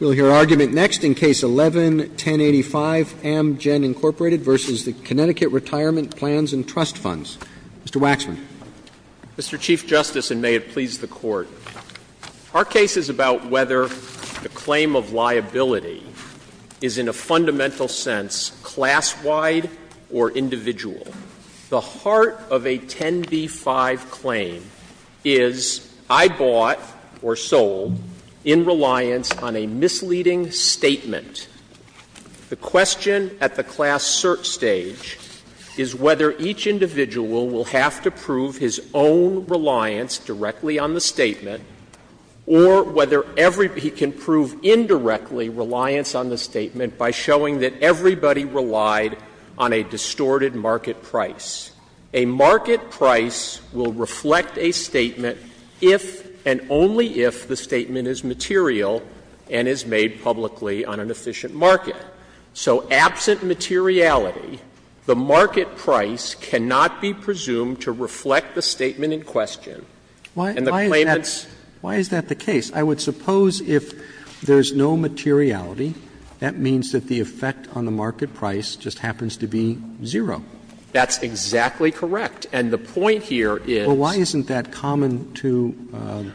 We'll hear argument next in Case 11-1085, Amgen, Inc., v. Connecticut Retirement Plans and Trust Funds. Mr. Waxman. Mr. Chief Justice, and may it please the Court, our case is about whether the claim of liability is, in a fundamental sense, class-wide or individual. The heart of a 10b-5 claim is, I bought or sold in reliance on a misleading statement. The question at the class search stage is whether each individual will have to prove his own reliance directly on the statement or whether he can prove indirectly reliance on the statement by showing that everybody relied on a distorted market price. A market price will reflect a statement if and only if the statement is material and is made publicly on an efficient market. So absent materiality, the market price cannot be presumed to reflect the statement in question, and the claimant's Why is that the case? I would suppose if there's no materiality, that means that the effect on the market price just happens to be zero. That's exactly correct. And the point here is Why isn't that common to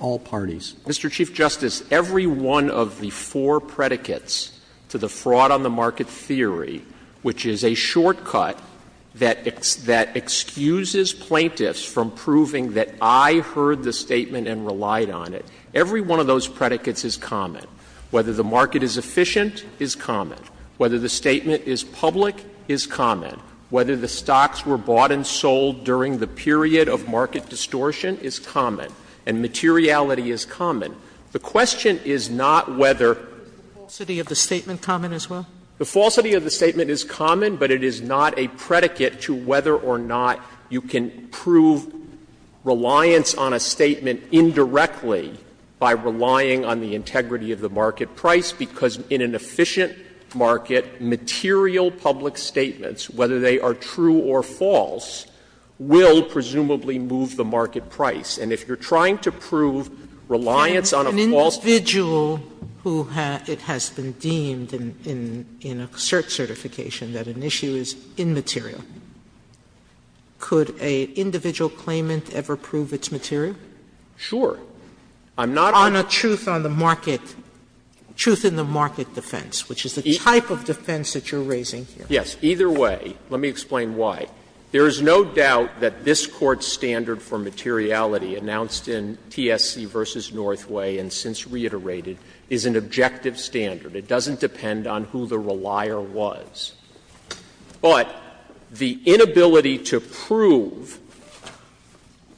all parties? Mr. Chief Justice, every one of the four predicates to the fraud on the market theory, which is a shortcut that excuses plaintiffs from proving that I heard the Every one of those predicates is common. Whether the market is efficient is common. Whether the statement is public is common. Whether the stocks were bought and sold during the period of market distortion is common, and materiality is common. The question is not whether Is the falsity of the statement common as well? The falsity of the statement is common, but it is not a predicate to whether or not you can prove reliance on a statement indirectly by relying on the integrity of the market price, because in an efficient market, material public statements, whether they are true or false, will presumably move the market price. And if you're trying to prove reliance on a false An individual who it has been deemed in a cert certification that an issue is immaterial could a individual claimant ever prove its material? Sure. I'm not On a truth on the market, truth in the market defense, which is the type of defense that you're raising here. Yes. Either way, let me explain why. There is no doubt that this Court's standard for materiality announced in TSC v. Northway and since reiterated is an objective standard. It doesn't depend on who the relier was. But the inability to prove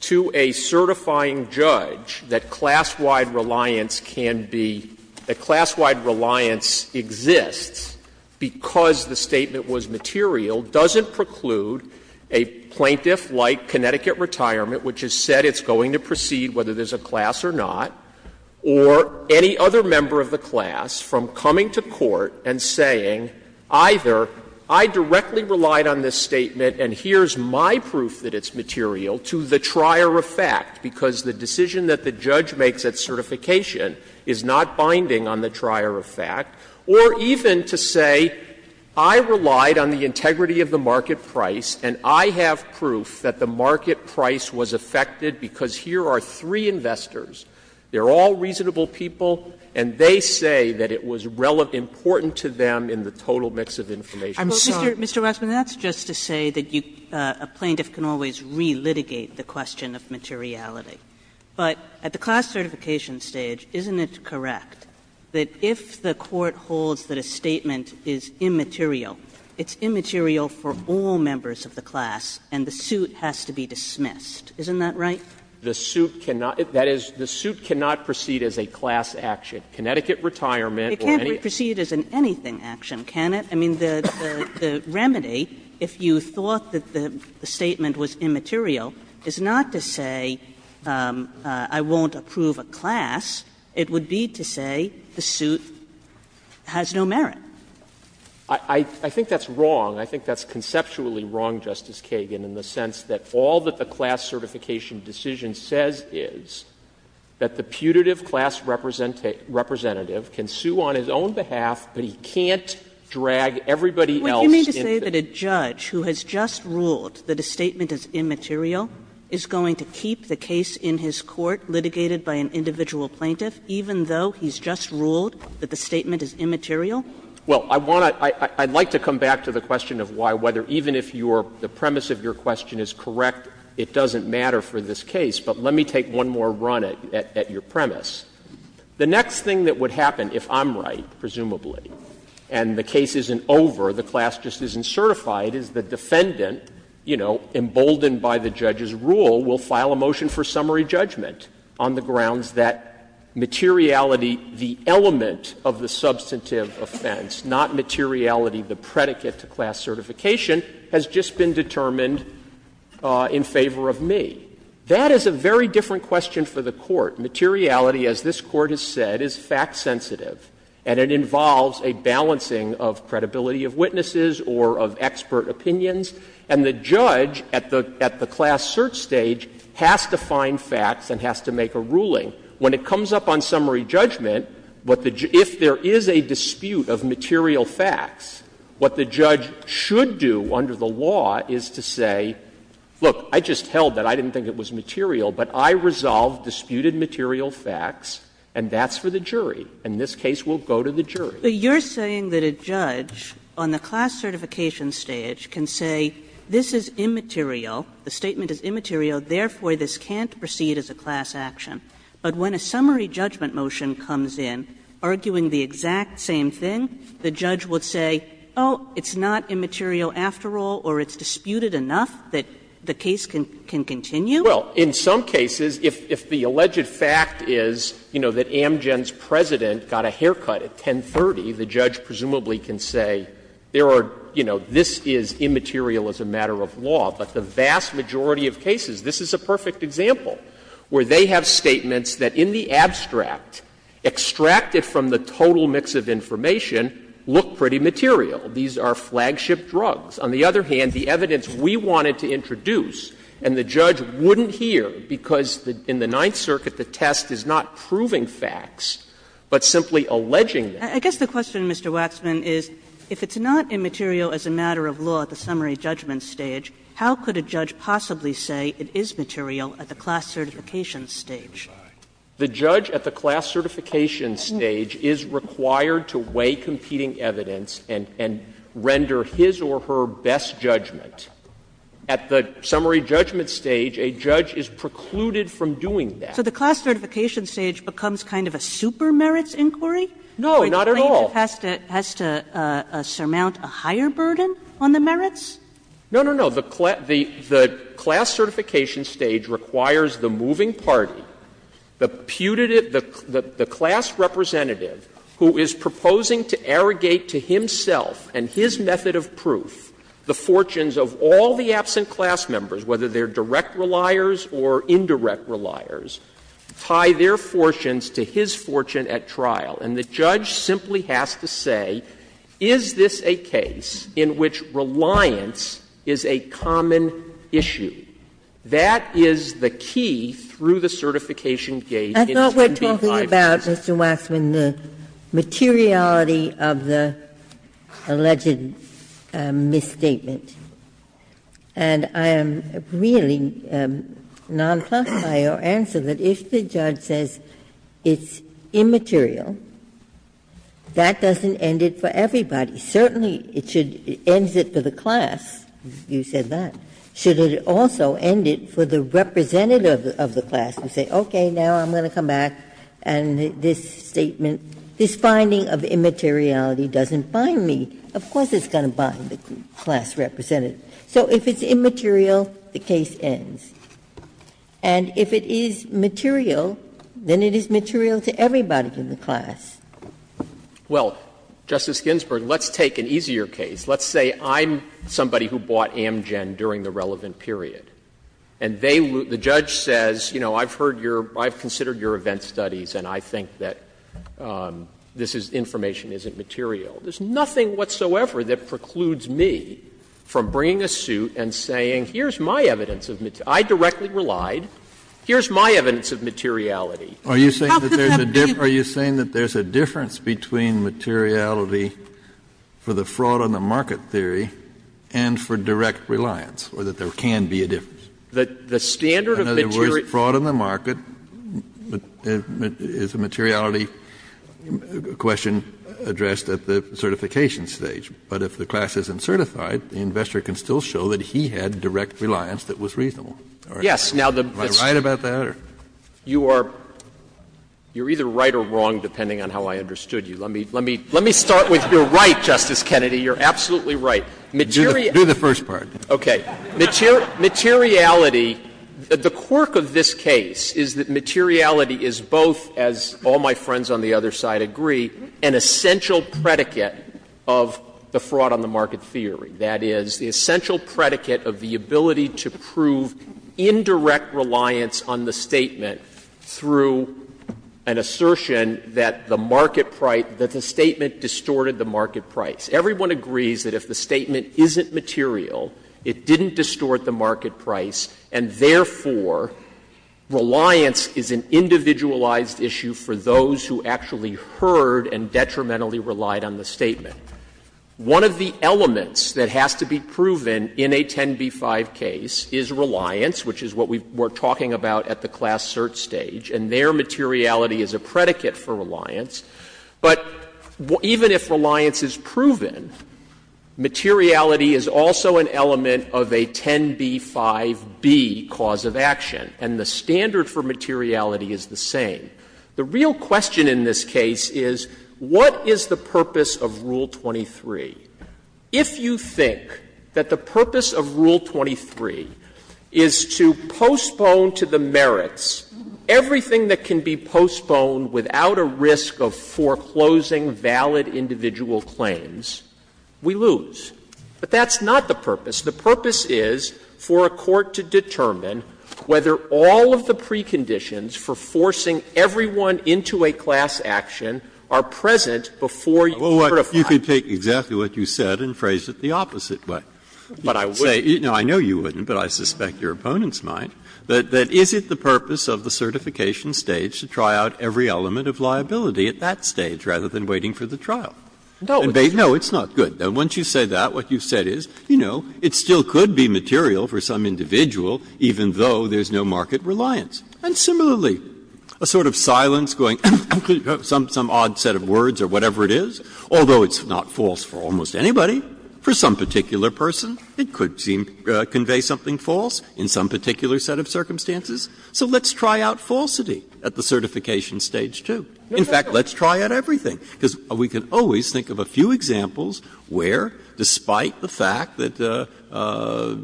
to a certifying judge that class-wide reliance can be, that class-wide reliance exists because the statement was material doesn't preclude a plaintiff like Connecticut Retirement, which has said it's going to proceed whether there's a class or not, or any other member of the class from coming to court and saying either I directly relied on this statement and here's my proof that it's material to the trier of fact, because the decision that the judge makes at certification is not binding on the trier of fact, or even to say I relied on the integrity of the market price and I have proof that the market price was affected because here are three investors, they're all reasonable people, and they say that it was important to them in the total mix of information. I'm sorry. Mr. Waxman, that's just to say that a plaintiff can always re-litigate the question of materiality. But at the class certification stage, isn't it correct that if the Court holds that a statement is immaterial, it's immaterial for all members of the class and the suit has to be dismissed? Isn't that right? The suit cannot – that is, the suit cannot proceed as a class action. Connecticut retirement or anything. Kagan. It can't proceed as an anything action, can it? I mean, the remedy, if you thought that the statement was immaterial, is not to say I won't approve a class. It would be to say the suit has no merit. I think that's wrong. I think that's conceptually wrong, Justice Kagan, in the sense that all that the class certification decision says is that the putative class representative can sue on his own behalf, but he can't drag everybody else into it. Would you mean to say that a judge who has just ruled that a statement is immaterial is going to keep the case in his court litigated by an individual plaintiff, even though he's just ruled that the statement is immaterial? Well, I want to – I'd like to come back to the question of why, whether even if your – the premise of your question is correct, it doesn't matter for this case. But let me take one more run at your premise. The next thing that would happen, if I'm right, presumably, and the case isn't over, the class just isn't certified, is the defendant, you know, emboldened by the judge's rule, will file a motion for summary judgment on the grounds that materiality, the element of the substantive offense, not materiality, the predicate to class certification, has just been determined in favor of me. That is a very different question for the Court. Materiality, as this Court has said, is fact-sensitive, and it involves a balancing of credibility of witnesses or of expert opinions. And the judge at the class search stage has to find facts and has to make a ruling. When it comes up on summary judgment, what the – if there is a dispute of material facts, what the judge should do under the law is to say, look, I just held that. I didn't think it was material, but I resolved disputed material facts, and that's for the jury. And this case will go to the jury. Kagan. But you're saying that a judge on the class certification stage can say this is immaterial, the statement is immaterial, therefore, this can't proceed as a class action. But when a summary judgment motion comes in arguing the exact same thing, the judge would say, oh, it's not immaterial after all, or it's disputed enough that the case can continue? Well, in some cases, if the alleged fact is, you know, that Amgen's president got a haircut at 10.30, the judge presumably can say, there are, you know, this is immaterial as a matter of law. But the vast majority of cases, this is a perfect example, where they have statements that in the abstract, extracted from the total mix of information, look pretty material. These are flagship drugs. On the other hand, the evidence we wanted to introduce and the judge wouldn't hear because in the Ninth Circuit the test is not proving facts, but simply alleging them. I guess the question, Mr. Waxman, is if it's not immaterial as a matter of law at the summary judgment stage, how could a judge possibly say it is material at the class certification stage? Waxman, The judge at the class certification stage is required to weigh competing evidence and render his or her best judgment. At the summary judgment stage, a judge is precluded from doing that. Kagan So the class certification stage becomes kind of a supermerits inquiry? Waxman No, not at all. Kagan So the plaintiff has to surmount a higher burden on the merits? Waxman No, no, no. The class certification stage requires the moving party, the putative, the class representative who is proposing to arrogate to himself and his method of proof the fortunes of all the absent class members, whether they are direct reliers or indirect reliers, tie their fortunes to his fortune at trial. And the judge simply has to say, is this a case in which reliance is a common issue? That is the key through the certification gauge in 10b-5-2. Ginsburg I thought we were talking about, Mr. Waxman, the materiality of the alleged misstatement, and I am really not pleased by your answer that if the judge says it's immaterial, that doesn't end it for everybody. Certainly it should end it for the class, you said that, should it also end it for the representative of the class and say, okay, now I'm going to come back and this statement, this finding of immateriality doesn't bind me. Of course it's going to bind the class representative. So if it's immaterial, the case ends. And if it is material, then it is material to everybody in the class. Waxman Well, Justice Ginsburg, let's take an easier case. Let's say I'm somebody who bought Amgen during the relevant period, and they loot the judge says, you know, I've heard your or I've considered your event studies and I think that this information isn't material. There's nothing whatsoever that precludes me from bringing a suit and saying here's my evidence of materiality, I directly relied, here's my evidence of materiality. Kennedy Are you saying that there's a difference between materiality for the fraud on the market theory and for direct reliance, or that there can be a difference? Waxman In other words, fraud on the market is a materiality question addressed at the certification stage, but if the class isn't certified, the investor can still show that he had direct reliance that was reasonable. Am I right about that? Waxman You are either right or wrong, depending on how I understood you. Let me start with you're right, Justice Kennedy, you're absolutely right. Materiality, the quirk of this case is that materiality is both, as all my friends on the other side agree, an essential predicate of the fraud on the market theory. That is, the essential predicate of the ability to prove indirect reliance on the statement through an assertion that the market price, that the statement distorted the market price. Everyone agrees that if the statement isn't material, it didn't distort the market price, and therefore, reliance is an individualized issue for those who actually heard and detrimentally relied on the statement. One of the elements that has to be proven in a 10b-5 case is reliance, which is what we're talking about at the class cert stage, and their materiality is a predicate for reliance. But even if reliance is proven, materiality is also an element of a 10b-5b cause of action, and the standard for materiality is the same. The real question in this case is what is the purpose of Rule 23? If you think that the purpose of Rule 23 is to postpone to the merits everything that can be postponed without a risk of foreclosing valid individual claims, we lose. But that's not the purpose. The purpose is for a court to determine whether all of the preconditions for forcing everyone into a class action are present before you certify. Breyer, you could take exactly what you said and phrase it the opposite way. You could say, I know you wouldn't, but I suspect your opponents might, that is it the purpose of the certification stage to try out every element of liability at that stage rather than waiting for the trial? No, it's not good. Once you say that, what you said is, you know, it still could be material for some individual even though there's no market reliance. And similarly, a sort of silence going, some odd set of words or whatever it is, although it's not false for almost anybody, for some particular person, it could convey something false in some particular set of circumstances. So let's try out falsity at the certification stage, too. In fact, let's try out everything, because we can always think of a few examples where, despite the fact that,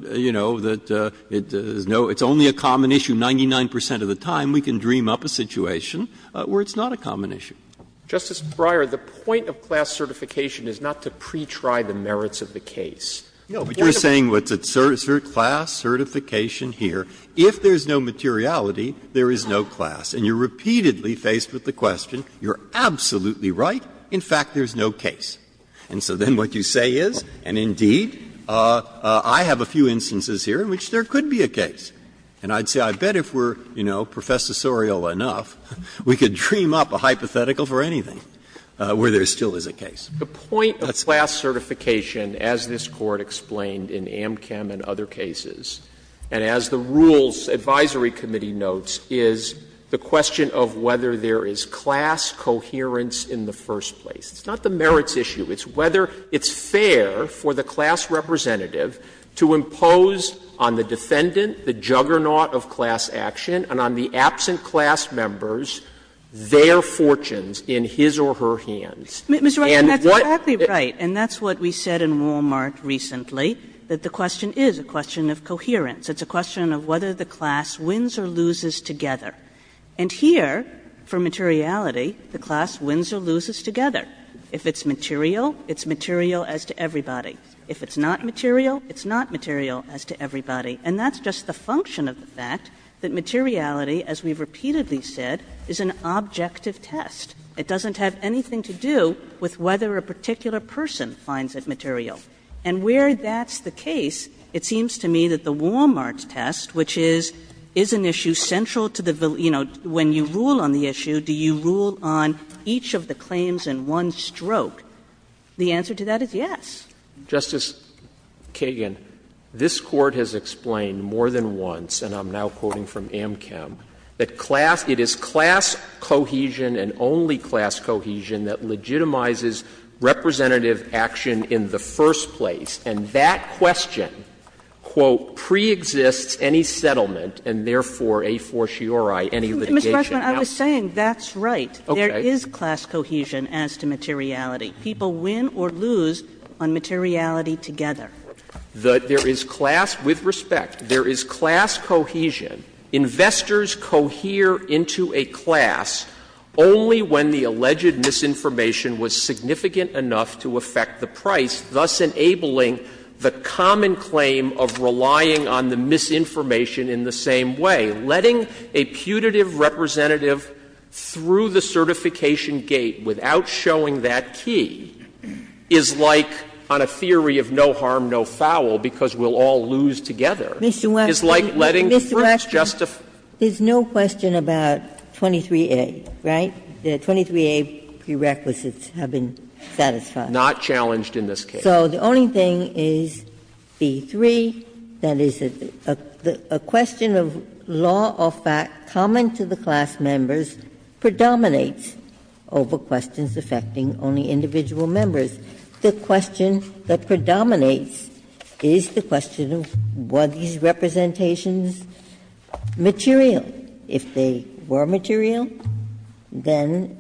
you know, that it's only a common issue, 99 percent of the time we can dream up a situation where it's not a common issue. Justice Breyer, the point of class certification is not to pretry the merits of the case. No, but you're saying what's at cert, class certification here, if there's no materiality, there is no class. And you're repeatedly faced with the question, you're absolutely right, in fact, there's no case. And so then what you say is, and indeed, I have a few instances here in which there could be a case. And I'd say, I bet if we're, you know, professorial enough, we could dream up a hypothetical for anything where there still is a case. That's it. Waxman, The point of class certification, as this Court explained in Amchem and other cases, and as the Rules Advisory Committee notes, is the question of whether there is class coherence in the first place. It's not the merits issue. It's whether it's fair for the class representative to impose on the defendant the juggernaut of class action and on the absent class members their fortunes in his or her hands. Kagan. Kagan. Kagan. And that's what we said in Wal-Mart recently, that the question is a question of coherence. It's a question of whether the class wins or loses together. And here, for materiality, the class wins or loses together. If it's material, it's material as to everybody. If it's not material, it's not material as to everybody. And that's just the function of the fact that materiality, as we've repeatedly said, is an objective test. It doesn't have anything to do with whether a particular person finds it material. And where that's the case, it seems to me that the Wal-Mart test, which is, is an issue central to the, you know, when you rule on the issue, do you rule on each of the claims in one stroke? The answer to that is yes. Justice Kagan, this Court has explained more than once, and I'm now quoting from Amchem, that class, it is class cohesion and only class cohesion that legitimizes representative action in the first place. And that question, quote, preexists any settlement and therefore a fortiori any litigation. Ms. Freshman, I was saying that's right. There is class cohesion as to materiality. People win or lose on materiality together. There is class, with respect, there is class cohesion. Investors cohere into a class only when the alleged misinformation was significant enough to affect the price, thus enabling the common claim of relying on the misinformation in the same way. Letting a putative representative through the certification gate without showing that key is like on a theory of no harm, no foul, because we'll all lose together. It's like letting proof justify. Ginsburg. There's no question about 23A, right? The 23A prerequisites have been satisfied. Not challenged in this case. So the only thing is B-3, that is, a question of law or fact common to the class of members predominates over questions affecting only individual members. The question that predominates is the question of were these representations material? If they were material, then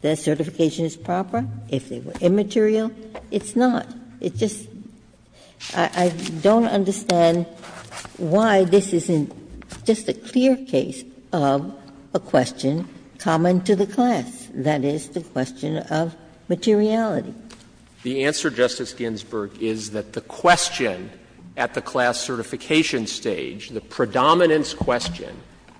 their certification is proper. If they were immaterial, it's not. It's just, I don't understand why this isn't just a clear case of a question common to the class, that is, the question of materiality. The answer, Justice Ginsburg, is that the question at the class certification stage, the predominance question,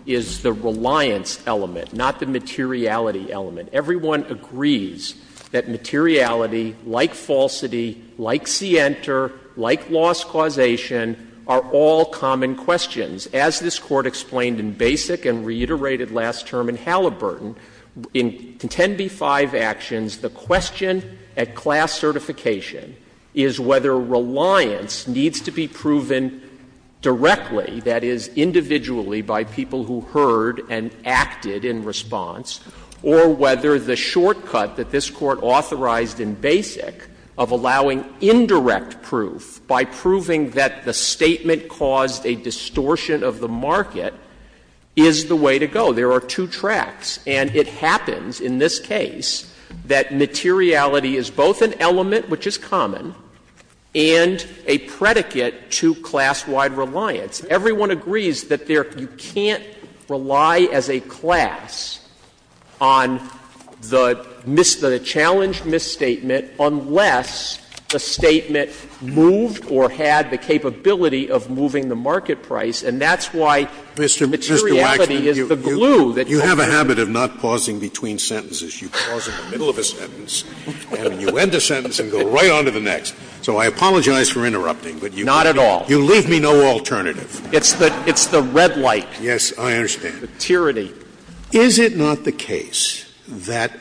is the reliance element, not the materiality element. Everyone agrees that materiality, like falsity, like scienter, like loss causation, are all common questions. As this Court explained in basic and reiterated last term in Halliburton, in 10b-5 actions, the question at class certification is whether reliance needs to be proven directly, that is, individually by people who heard and acted in response, or whether the shortcut that this Court authorized in basic of allowing indirect proof by proving that the statement caused a distortion of the market is the way to go. There are two tracks. And it happens in this case that materiality is both an element, which is common, and a predicate to class-wide reliance. Everyone agrees that there you can't rely as a class on the challenged misstatement unless the statement moved or had the capability of moving the market price, and that's why materiality is the glue that you have. Scalia, Mr. Waxman, you have a habit of not pausing between sentences. You pause in the middle of a sentence, and you end a sentence and go right on to the next. So I apologize for interrupting, but you leave me no alternative. It's the red light. Yes, I understand. Materiality. Is it not the case that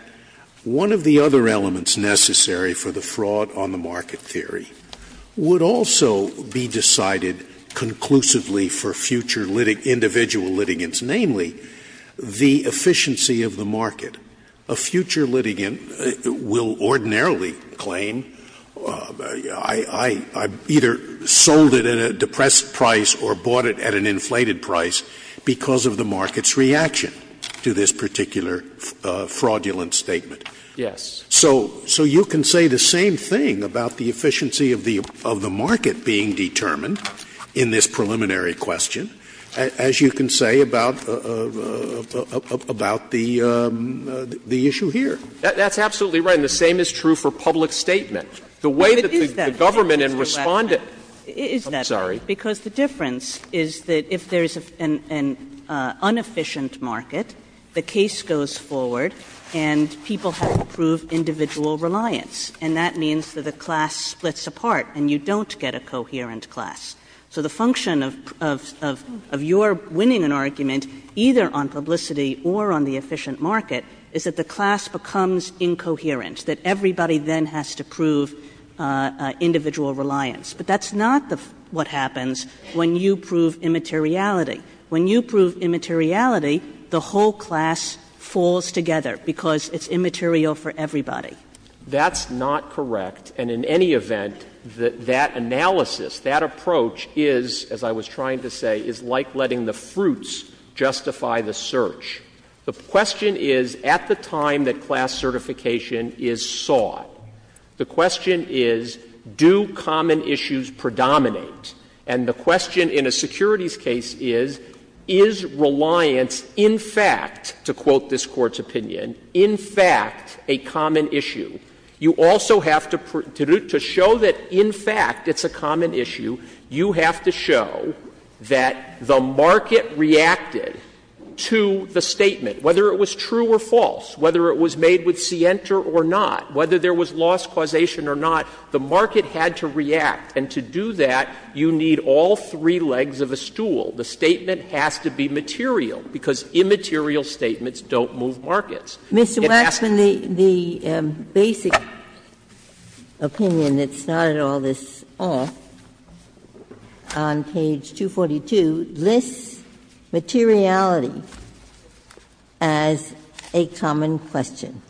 one of the other elements necessary for the fraud on the market theory would also be decided conclusively for future individual litigants, namely the efficiency of the market? A future litigant will ordinarily claim, I either sold it at a depressed price or bought it at an inflated price, because of the market's reaction to this particular fraudulent statement. Yes. So you can say the same thing about the efficiency of the market being determined in this preliminary question as you can say about the issue here. That's absolutely right, and the same is true for public statement. The way that the government in response to the question, I'm sorry. Because the difference is that if there's an inefficient market, the case goes forward and people have to prove individual reliance, and that means that the class splits apart and you don't get a coherent class. So the function of your winning an argument, either on publicity or on the efficient market, is that the class becomes incoherent, that everybody then has to prove individual reliance. But that's not what happens when you prove immateriality. When you prove immateriality, the whole class falls together because it's immaterial for everybody. That's not correct, and in any event, that analysis, that approach is, as I was trying to say, is like letting the fruits justify the search. The question is, at the time that class certification is sought, the question is, do common issues predominate? And the question in a securities case is, is reliance in fact, to quote this Court's opinion, in fact a common issue? You also have to show that in fact it's a common issue. You have to show that the market reacted to the statement, whether it was true or false, whether it was made with scienter or not, whether there was loss causation or not. The market had to react, and to do that, you need all three legs of a stool. The statement has to be material, because immaterial statements don't move markets. It has to be material. Ginsburg. Mr. Waxman, the basic opinion that started all this off on page 242 lists materiality as a common question,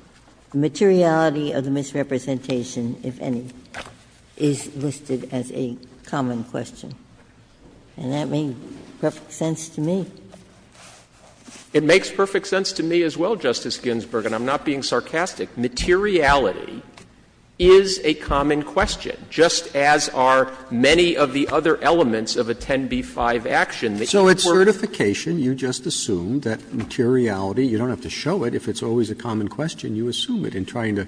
the materiality of the misrepresentation, if any. It's listed as a common question, and that makes perfect sense to me. It makes perfect sense to me as well, Justice Ginsburg, and I'm not being sarcastic. Materiality is a common question, just as are many of the other elements of a 10b-5 action. So at certification, you just assume that materiality, you don't have to show it. If it's always a common question, you assume it. And trying to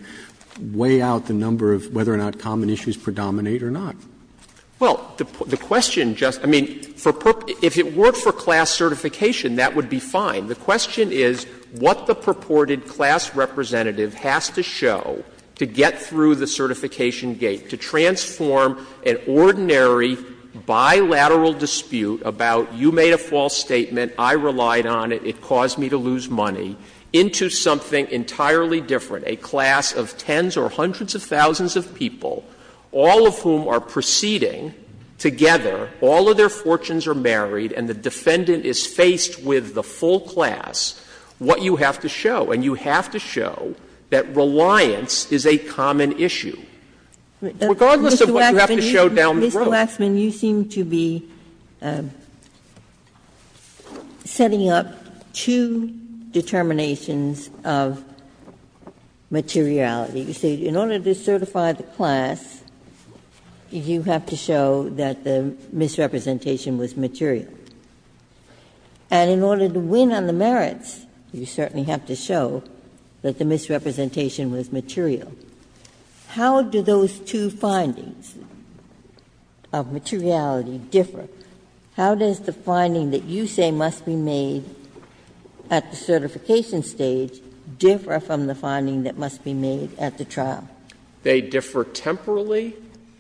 weigh out the number of whether or not common issues predominate or not. Well, the question, Justice — I mean, if it were for class certification, that would be fine. The question is what the purported class representative has to show to get through the certification gate, to transform an ordinary bilateral dispute about, you made a false statement, I relied on it, it caused me to lose money, into something entirely different, a class of tens or hundreds of thousands of people, all of whom are proceeding together, all of their fortunes are married, and the defendant is faced with the full class, what you have to show. And you have to show that reliance is a common issue. Regardless of what you have to show down the road. Ginsburg. You seem to be setting up two determinations of materiality. You say in order to certify the class, you have to show that the misrepresentation was material. And in order to win on the merits, you certainly have to show that the misrepresentation was material. How do those two findings of materiality differ? How does the finding that you say must be made at the certification stage differ from the finding that must be made at the trial? Waxman. They differ temporally,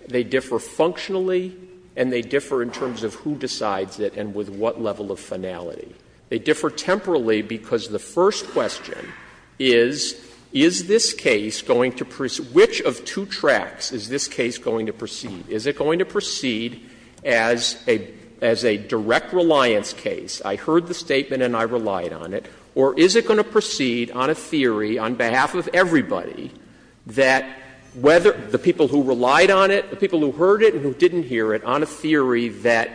they differ functionally, and they differ in terms of who decides it and with what level of finality. They differ temporally because the first question is, is this case going to proceed — which of two tracks is this case going to proceed? Is it going to proceed as a direct reliance case, I heard the statement and I relied on it, or is it going to proceed on a theory on behalf of everybody that whether the people who relied on it, the people who heard it and who didn't hear it, on a theory that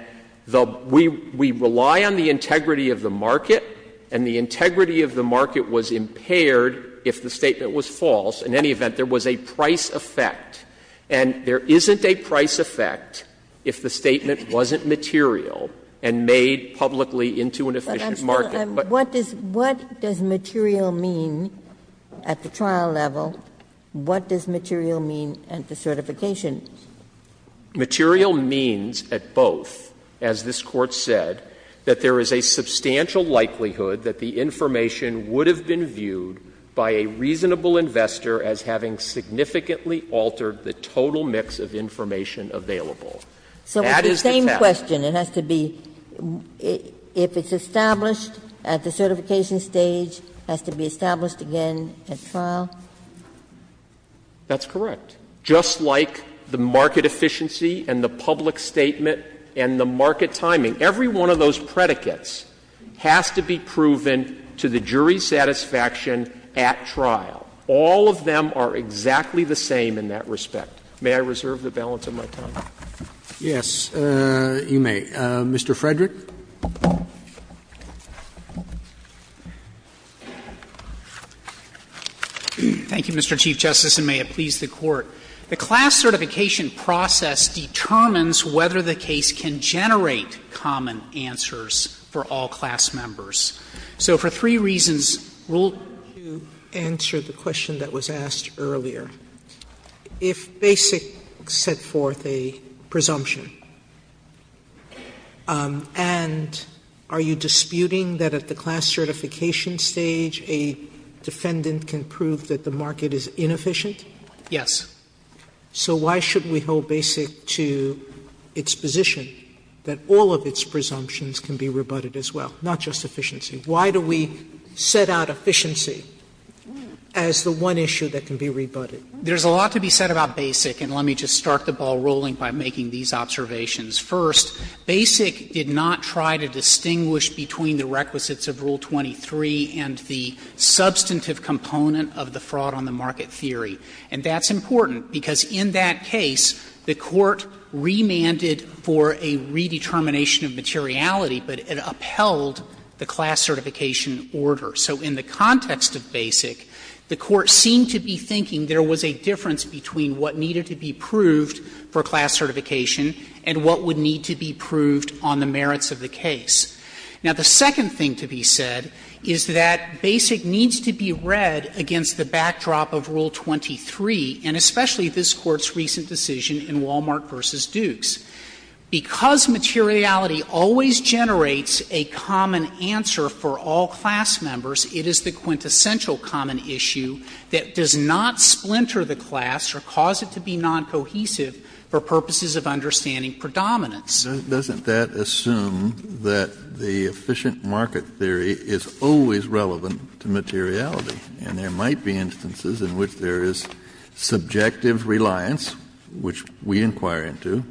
the — we rely on the integrity of the market and the integrity of the market was impaired if the statement was false. In any event, there was a price effect, and there isn't a price effect if the statement wasn't material and made publicly into an efficient market. But what does material mean at the trial level? What does material mean at the certification? Waxman, Material means at both, as this Court said, that there is a substantial likelihood that the information would have been viewed by a reasonable investor as having significantly altered the total mix of information available. That is the test. Ginsburg So with the same question, it has to be, if it's established at the certification stage, it has to be established again at trial? Waxman That's correct. Just like the market efficiency and the public statement and the market timing, every one of those predicates has to be proven to the jury's satisfaction at trial. All of them are exactly the same in that respect. May I reserve the balance of my time? Roberts Yes, you may. Mr. Frederick. Frederick Thank you, Mr. Chief Justice, and may it please the Court. The class certification process determines whether the case can generate common answers for all class members. So for three reasons, rule 2. Sotomayor To answer the question that was asked earlier, if Basic set forth a presumption that all of its presumptions can be rebutted as well, not just efficiency, why do we set out efficiency as the one issue that can be rebutted? Frederick There's a lot to be said about Basic, and let me just start the ball rolling about Basic. First, Basic did not try to distinguish between the requisites of Rule 23 and the substantive component of the fraud on the market theory. And that's important, because in that case, the Court remanded for a redetermination of materiality, but it upheld the class certification order. So in the context of Basic, the Court seemed to be thinking there was a difference between what needed to be proved for class certification and what would need to be proved on the merits of the case. Now, the second thing to be said is that Basic needs to be read against the backdrop of Rule 23, and especially this Court's recent decision in Wal-Mart v. Dukes. Because materiality always generates a common answer for all class members, it is the to be noncohesive for purposes of understanding predominance. Kennedy Doesn't that assume that the efficient market theory is always relevant to materiality? And there might be instances in which there is subjective reliance, which we inquire into,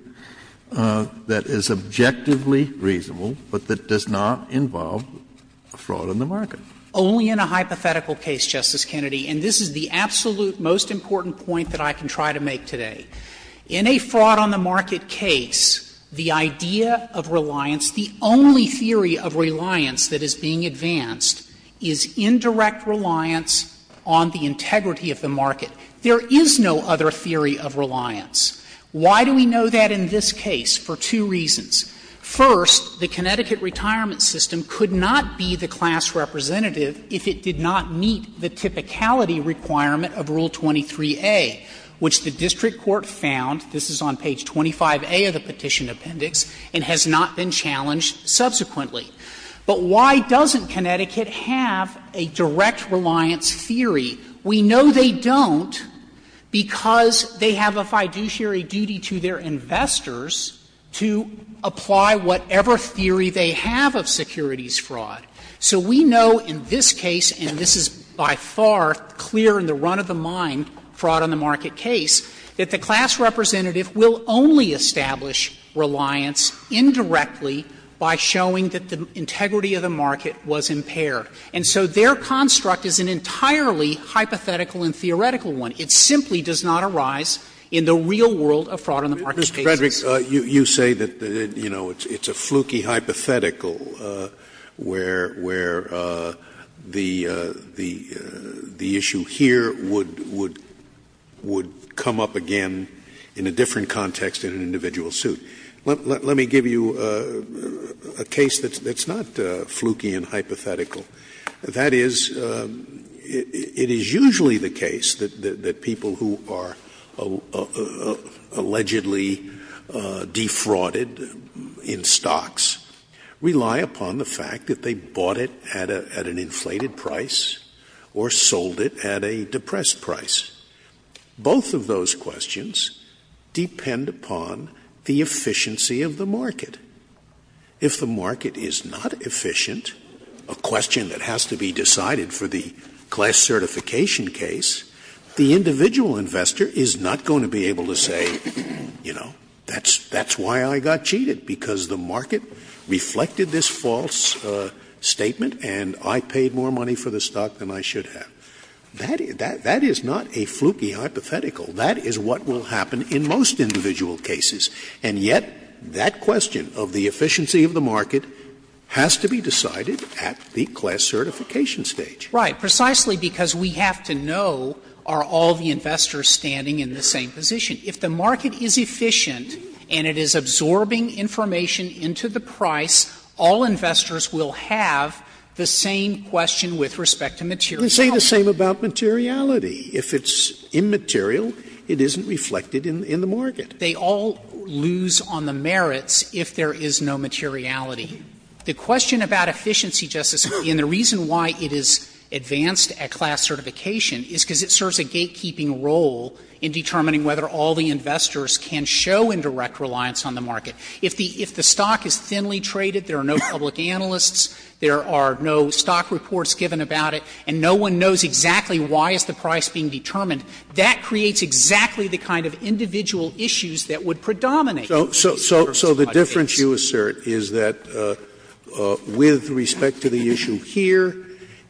that is objectively reasonable, but that does not involve fraud in the market. Frederick Only in a hypothetical case, Justice Kennedy, and this is the absolute most important point that I can try to make today, in a fraud on the market case, the idea of reliance, the only theory of reliance that is being advanced, is indirect reliance on the integrity of the market. There is no other theory of reliance. Why do we know that in this case? For two reasons. First, the Connecticut retirement system could not be the class representative if it did not meet the typicality requirement of Rule 23a, which the district court found, this is on page 25a of the petition appendix, and has not been challenged subsequently. But why doesn't Connecticut have a direct reliance theory? We know they don't because they have a fiduciary duty to their investors to apply whatever theory they have of securities fraud. So we know in this case, and this is by far clear in the run-of-the-mind fraud on the market case, that the class representative will only establish reliance indirectly by showing that the integrity of the market was impaired. And so their construct is an entirely hypothetical and theoretical one. It simply does not arise in the real world of fraud on the market cases. Scalia. Mr. Frederick, you say that, you know, it's a fluky hypothetical where the issue here would come up again in a different context in an individual suit. Let me give you a case that's not fluky and hypothetical. That is, it is usually the case that people who are allegedly in the market are allegedly defrauded in stocks rely upon the fact that they bought it at an inflated price or sold it at a depressed price. Both of those questions depend upon the efficiency of the market. If the market is not efficient, a question that has to be decided for the class certification stage. That's why I got cheated, because the market reflected this false statement and I paid more money for the stock than I should have. That is not a fluky hypothetical. That is what will happen in most individual cases. And yet, that question of the efficiency of the market has to be decided at the class certification stage. Right. Precisely because we have to know are all the investors standing in the same position. If the market is efficient and it is absorbing information into the price, all investors will have the same question with respect to materiality. Scalia, You can say the same about materiality. If it's immaterial, it isn't reflected in the market. Frederick, They all lose on the merits if there is no materiality. The question about efficiency, Justice Scalia, and the reason why it is advanced at class certification is because it serves a gatekeeping role in determining whether all the investors can show indirect reliance on the market. If the stock is thinly traded, there are no public analysts, there are no stock reports given about it, and no one knows exactly why is the price being determined, that creates exactly the kind of individual issues that would predominate. Scalia, So the difference you assert is that with respect to the issue here,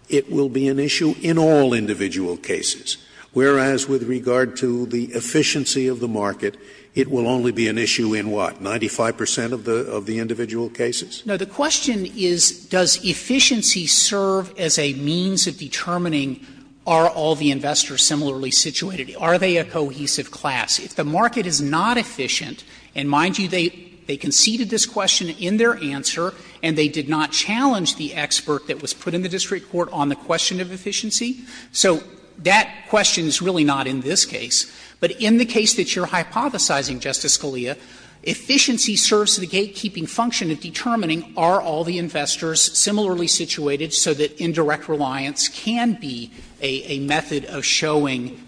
it will be an issue in all individual cases. Whereas, with regard to the efficiency of the market, it will only be an issue in what, 95 percent of the individual cases? Frederick, No. The question is, does efficiency serve as a means of determining are all the investors similarly situated? Are they a cohesive class? If the market is not efficient, and mind you, they conceded this question in their answer and they did not challenge the expert that was put in the district court on the question of efficiency. So that question is really not in this case. But in the case that you are hypothesizing, Justice Scalia, efficiency serves the gatekeeping function of determining are all the investors similarly situated so that indirect reliance can be a method of showing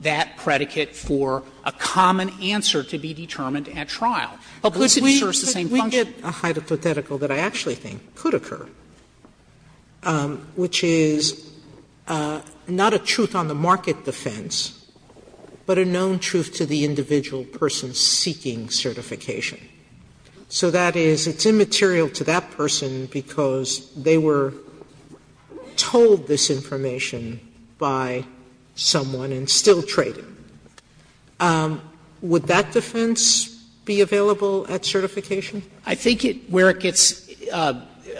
that predicate for a common answer to be determined at trial. Publicity serves the same function. Sotomayor, But we get a hypothetical that I actually think could occur, which is, not a truth on the market defense, but a known truth to the individual person seeking certification. So that is, it's immaterial to that person because they were told this information by someone and still traded. Would that defense be available at certification? Frederick, I think where it gets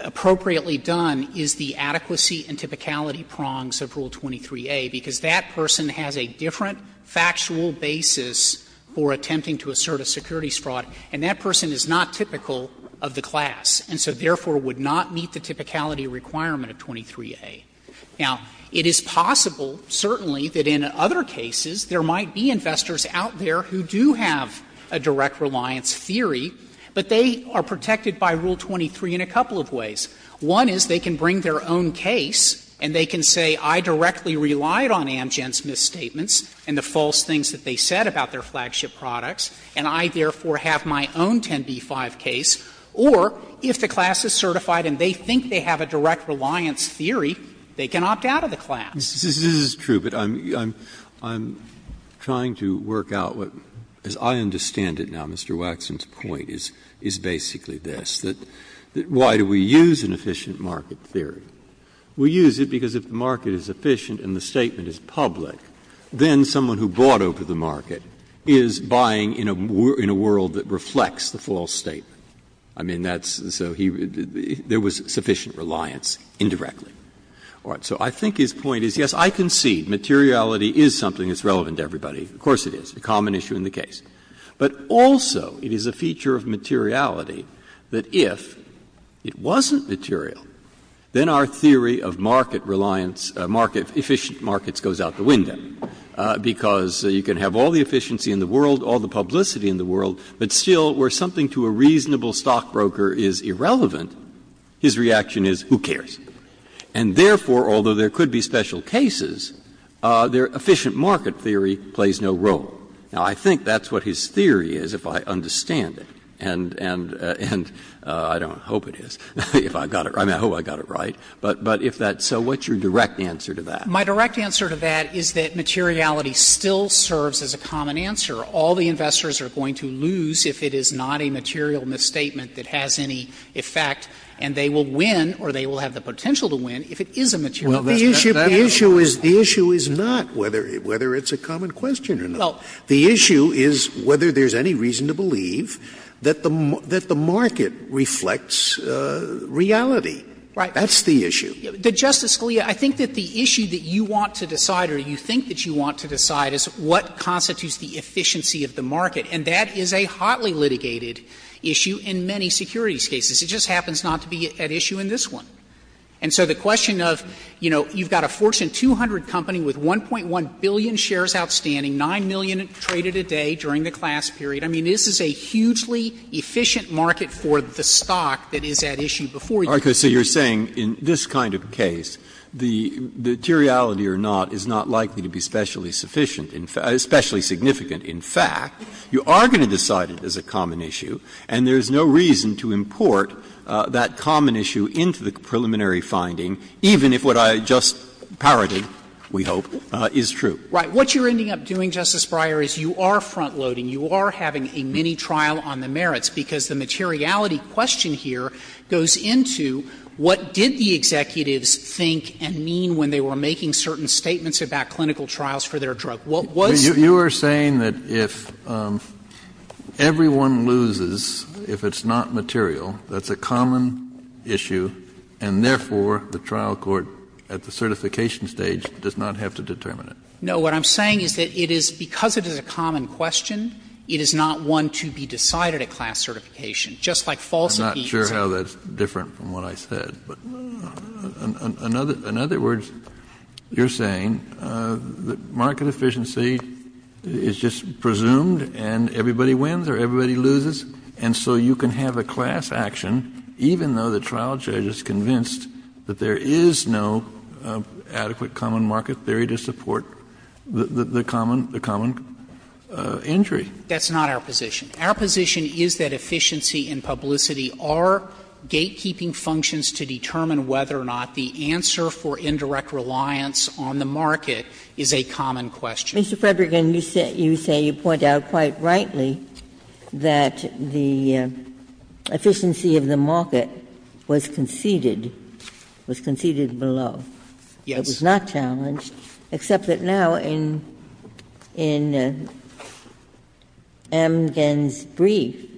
appropriately done is the adequacy and typicality prongs of Rule 23a, because that person has a different factual basis for attempting to assert a securities fraud, and that person is not typical of the class, and so therefore would not meet the typicality requirement of 23a. Now, it is possible, certainly, that in other cases there might be investors out there who do have a direct reliance theory, but they are protected by Rule 23 in a couple of ways. One is they can bring their own case and they can say, I directly relied on Amgen's misstatements and the false things that they said about their flagship products, and I therefore have my own 10b-5 case. Or if the class is certified and they think they have a direct reliance theory, they can opt out of the class. Breyer, this is true, but I'm trying to work out what, as I understand it now, Mr. Breyer, why do we use an efficient market theory? We use it because if the market is efficient and the statement is public, then someone who bought over the market is buying in a world that reflects the false statement. I mean, that's so he was, there was sufficient reliance indirectly. So I think his point is, yes, I concede materiality is something that's relevant to everybody, of course it is, a common issue in the case, but also it is a feature of materiality that if it wasn't material, then our theory of market reliance, market, efficient markets goes out the window, because you can have all the efficiency in the world, all the publicity in the world, but still where something to a reasonable stockbroker is irrelevant, his reaction is who cares. And therefore, although there could be special cases, their efficient market theory plays no role. Now, I think that's what his theory is, if I understand it. And I don't hope it is, if I got it right, I hope I got it right. But if that's so, what's your direct answer to that? Frederick, my direct answer to that is that materiality still serves as a common answer. All the investors are going to lose if it is not a material misstatement that has any effect, and they will win or they will have the potential to win if it is a material misstatement. Scalia, well, the issue is not whether it's a common question or not. The issue is whether there's any reason to believe that the market reflects reality. Frederick, that's the issue. Frederick, I think that the issue that you want to decide or you think that you want to decide is what constitutes the efficiency of the market. And that is a hotly litigated issue in many securities cases. It just happens not to be at issue in this one. And so the question of, you know, you've got a Fortune 200 company with 1.1 billion shares outstanding, 9 million traded a day during the class period. I mean, this is a hugely efficient market for the stock that is at issue before you. Breyer, so you're saying in this kind of case, the materiality or not is not likely to be specially sufficient, especially significant. In fact, you are going to decide it is a common issue, and there's no reason to import that common issue into the preliminary finding, even if what I just parodied, we hope, is true. Frederick, right. What you're ending up doing, Justice Breyer, is you are front-loading. You are having a mini-trial on the merits, because the materiality question here goes into what did the executives think and mean when they were making certain statements about clinical trials for their drug. What was the question? Kennedy, you are saying that if everyone loses, if it's not material, that's a common issue, and therefore the trial court at the certification stage does not have to determine it. No. What I'm saying is that it is, because it is a common question, it is not one to be decided at class certification. Just like false impeachments are. Kennedy, I'm not sure how that's different from what I said. But in other words, you're saying that market efficiency is just presumed and everybody wins or everybody loses, and so you can have a class action, even though the trial judge is convinced that there is no adequate common market theory to support the common entry. That's not our position. Our position is that efficiency and publicity are gatekeeping functions to determine whether or not the answer for indirect reliance on the market is a common question. Ginsburg, Mr. Frederick, you say you point out quite rightly that the efficiency of the market was conceded, was conceded below. Yes. It was not challenged, except that now in Amgen's brief,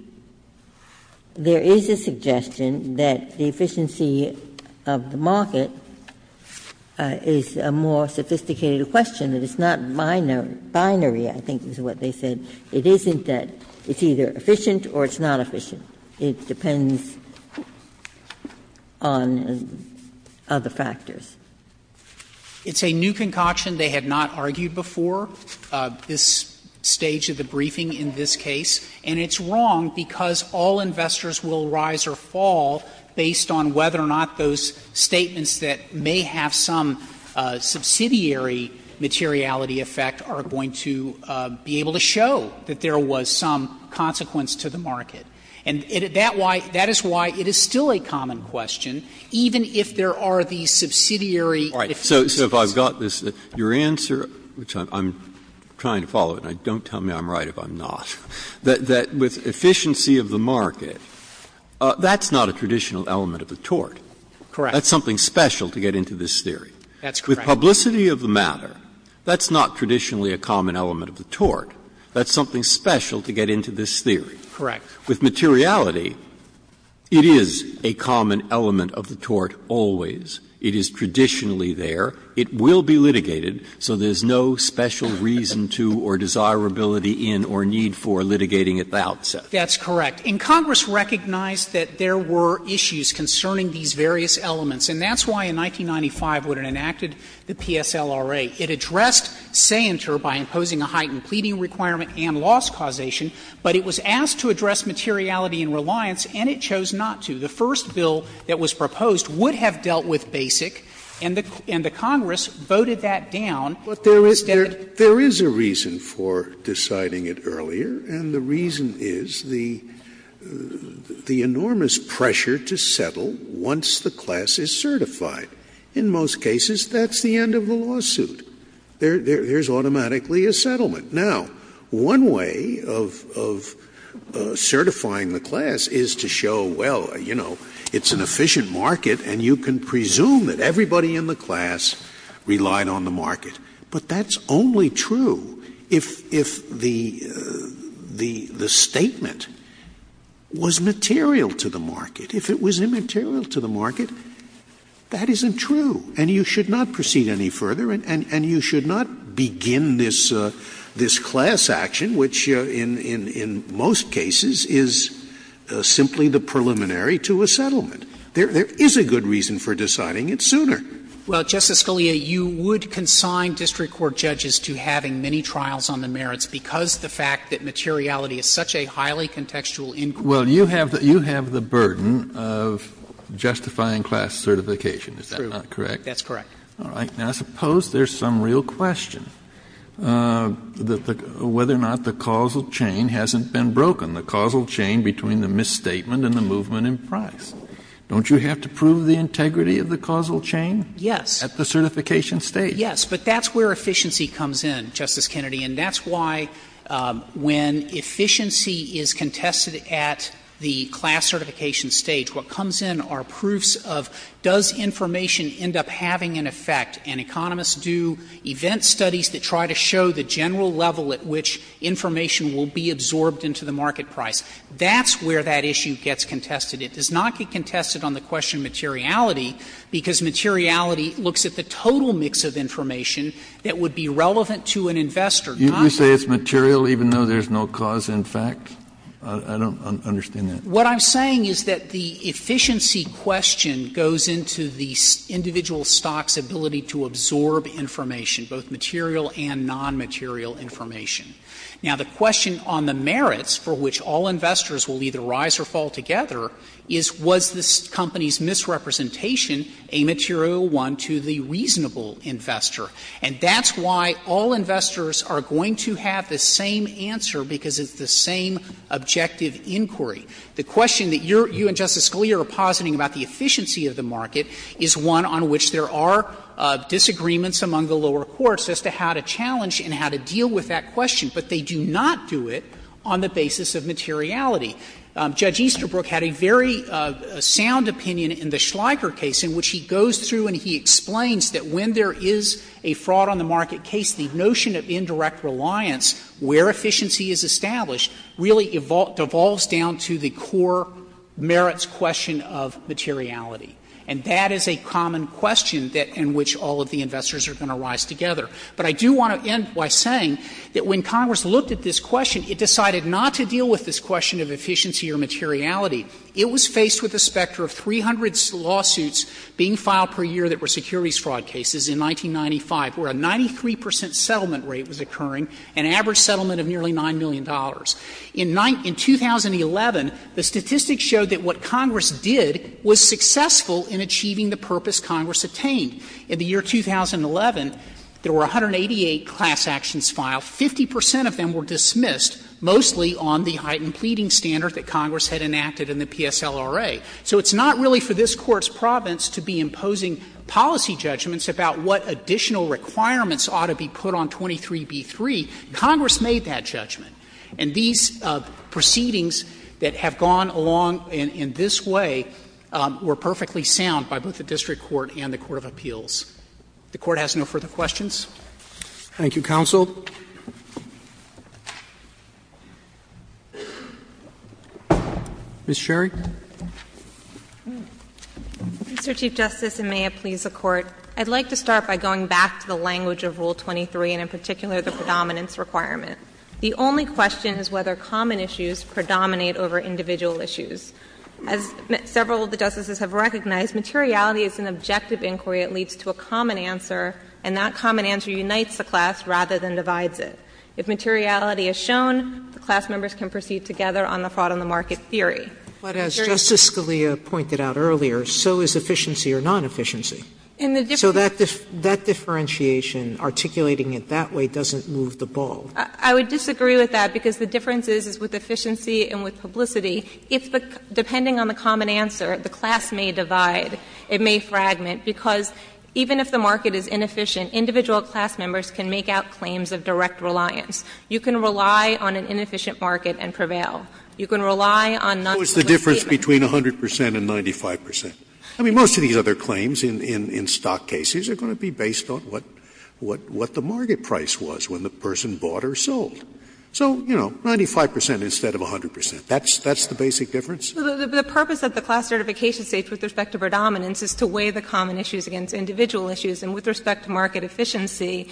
there is a suggestion that the efficiency of the market is a more sophisticated question. It's not binary, I think, is what they said. It isn't that it's either efficient or it's not efficient. It depends on other factors. It's a new concoction. They have not argued before this stage of the briefing in this case. And it's wrong because all investors will rise or fall based on whether or not those that have a subsidiary materiality effect are going to be able to show that there was some consequence to the market. And that is why it is still a common question, even if there are the subsidiary efficiencies. So if I've got this, your answer, which I'm trying to follow, and don't tell me I'm right if I'm not, that with efficiency of the market, that's not a traditional element of the tort. Correct. That's something special to get into this theory. That's correct. Publicity of the matter, that's not traditionally a common element of the tort. That's something special to get into this theory. Correct. With materiality, it is a common element of the tort always. It is traditionally there. It will be litigated, so there's no special reason to or desirability in or need for litigating at the outset. That's correct. And Congress recognized that there were issues concerning these various elements, and that's why, in 1995, when it enacted the PSLRA, it addressed Sainter by imposing a heightened pleading requirement and loss causation, but it was asked to address materiality and reliance, and it chose not to. The first bill that was proposed would have dealt with BASIC, and the Congress voted that down. But there is a reason for deciding it earlier, and the reason is the enormous pressure to settle once the class is certified. In most cases, that's the end of the lawsuit. There's automatically a settlement. Now, one way of certifying the class is to show, well, you know, it's an efficient market, and you can presume that everybody in the class relied on the market. But that's only true if the statement was material to the market. If it was immaterial to the market, that isn't true. And you should not proceed any further, and you should not begin this class action, which in most cases is simply the preliminary to a settlement. There is a good reason for deciding it sooner. Well, Justice Scalia, you would consign district court judges to having many trials on the merits because the fact that materiality is such a highly contextual inquiry. Well, you have the burden of justifying class certification. Is that not correct? That's correct. All right. Now, I suppose there's some real question, whether or not the causal chain hasn't been broken, the causal chain between the misstatement and the movement in price. Don't you have to prove the integrity of the causal chain? Yes. At the certification stage. Yes. But that's where efficiency comes in, Justice Kennedy. And that's why when efficiency is contested at the class certification stage, what comes in are proofs of, does information end up having an effect? And economists do event studies that try to show the general level at which information will be absorbed into the market price. That's where that issue gets contested. It does not get contested on the question of materiality, because materiality looks at the total mix of information that would be relevant to an investor. Do you say it's material even though there's no cause in fact? I don't understand that. What I'm saying is that the efficiency question goes into the individual stock's ability to absorb information, both material and nonmaterial information. Now, the question on the merits for which all investors will either rise or fall together is, was this company's misrepresentation a material one to the reasonable investor? And that's why all investors are going to have the same answer, because it's the same objective inquiry. The question that you and Justice Scalia are positing about the efficiency of the market is one on which there are disagreements among the lower courts as to how to challenge and how to deal with that question, but they do not do it on the basis of materiality. Judge Easterbrook had a very sound opinion in the Schleicher case in which he goes through and he explains that when there is a fraud on the market case, the notion of indirect reliance where efficiency is established really devolves down to the core merits question of materiality. And that is a common question in which all of the investors are going to rise together. But I do want to end by saying that when Congress looked at this question, it decided not to deal with this question of efficiency or materiality. It was faced with a specter of 300 lawsuits being filed per year that were securities fraud cases in 1995, where a 93 percent settlement rate was occurring, an average settlement of nearly $9 million. In 2011, the statistics showed that what Congress did was successful in achieving the purpose Congress attained. In the year 2011, there were 188 class actions filed. Fifty percent of them were dismissed, mostly on the heightened pleading standard that Congress had enacted in the PSLRA. So it's not really for this Court's province to be imposing policy judgments about what additional requirements ought to be put on 23b-3. Congress made that judgment. And these proceedings that have gone along in this way were perfectly sound by both the district court and the court of appeals. If the Court has no further questions. Roberts Thank you, counsel. Ms. Sherry. Ms. Sherry Mr. Chief Justice, and may it please the Court, I'd like to start by going back to the language of Rule 23, and in particular the predominance requirement. The only question is whether common issues predominate over individual issues. As several of the Justices have recognized, materiality is an objective inquiry that leads to a common answer, and that common answer unites the class rather than divides it. If materiality is shown, the class members can proceed together on the fraud-on-the-market theory. Sotomayor But as Justice Scalia pointed out earlier, so is efficiency or non-efficiency. So that differentiation, articulating it that way, doesn't move the ball. Ms. Sherry I would disagree with that, because the difference is with efficiency and with publicity. If the — depending on the common answer, the class may divide, it may fragment, because even if the market is inefficient, individual class members can make out claims of direct reliance. You can rely on an inefficient market and prevail. You can rely on non-efficient statements. Scalia What's the difference between 100 percent and 95 percent? I mean, most of these other claims in stock cases are going to be based on what the market price was when the person bought or sold. So, you know, 95 percent instead of 100 percent. That's the basic difference? Ms. Sherry The purpose of the class certification states with respect to predominance is to weigh the common issues against individual issues. And with respect to market efficiency,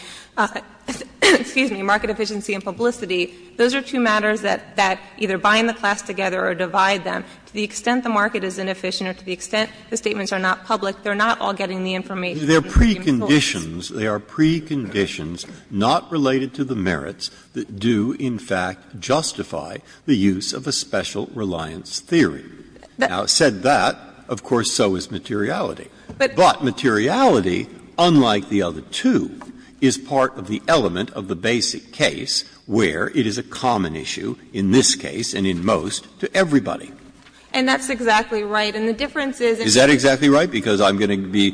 excuse me, market efficiency and publicity, those are two matters that either bind the class together or divide them. To the extent the market is inefficient or to the extent the statements are not public, they are not all getting the information. Breyer They are preconditions. They are preconditions not related to the merits that do, in fact, justify the use of a special reliance theory. Now, said that, of course, so is materiality. But materiality, unlike the other two, is part of the element of the basic case where it is a common issue in this case and in most to everybody. Ms. Sherry And that's exactly right. And the difference is in the case of the class certification. Breyer Is that exactly right? Because I'm going to be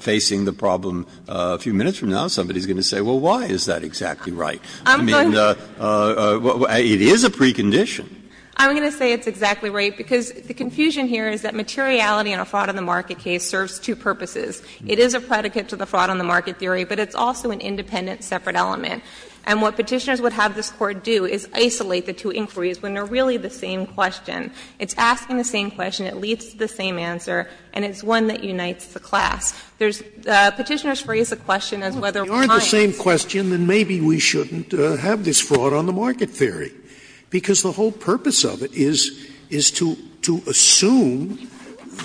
facing the problem a few minutes from now. Somebody is going to say, well, why is that exactly right? I mean, it is a precondition. Ms. Sherry I'm going to say it's exactly right, because the confusion here is that materiality in a fraud on the market case serves two purposes. It is a predicate to the fraud on the market theory, but it's also an independent, separate element. And what Petitioners would have this Court do is isolate the two inquiries when they are really the same question. It's asking the same question, it leads to the same answer, and it's one that unites the class. There's the Petitioners phrase the question as whether it binds. Scalia If they aren't the same question, then maybe we shouldn't have this fraud on the market theory. Because the whole purpose of it is to assume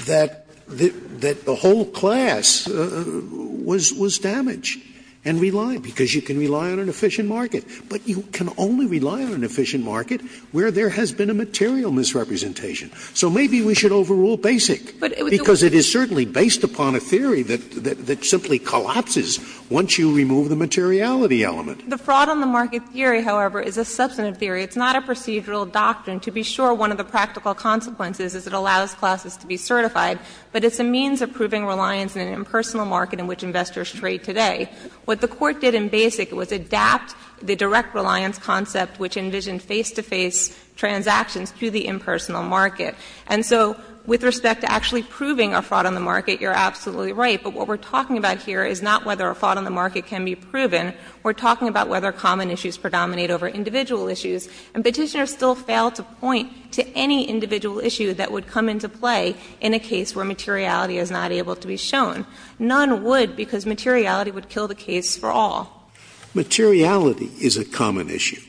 that the whole class was damaged and relied, because you can rely on an efficient market. But you can only rely on an efficient market where there has been a material misrepresentation. So maybe we should overrule basic, because it is certainly based upon a theory that simply collapses once you remove the materiality element. The fraud on the market theory, however, is a substantive theory. It's not a procedural doctrine. To be sure, one of the practical consequences is it allows classes to be certified. But it's a means of proving reliance in an impersonal market in which investors trade today. What the Court did in basic was adapt the direct reliance concept which envisioned face-to-face transactions to the impersonal market. And so with respect to actually proving a fraud on the market, you're absolutely right. But what we're talking about here is not whether a fraud on the market can be proven. We're talking about whether common issues predominate over individual issues. And Petitioner still failed to point to any individual issue that would come into play in a case where materiality is not able to be shown. None would, because materiality would kill the case for all. Scalia. Materiality is a common issue.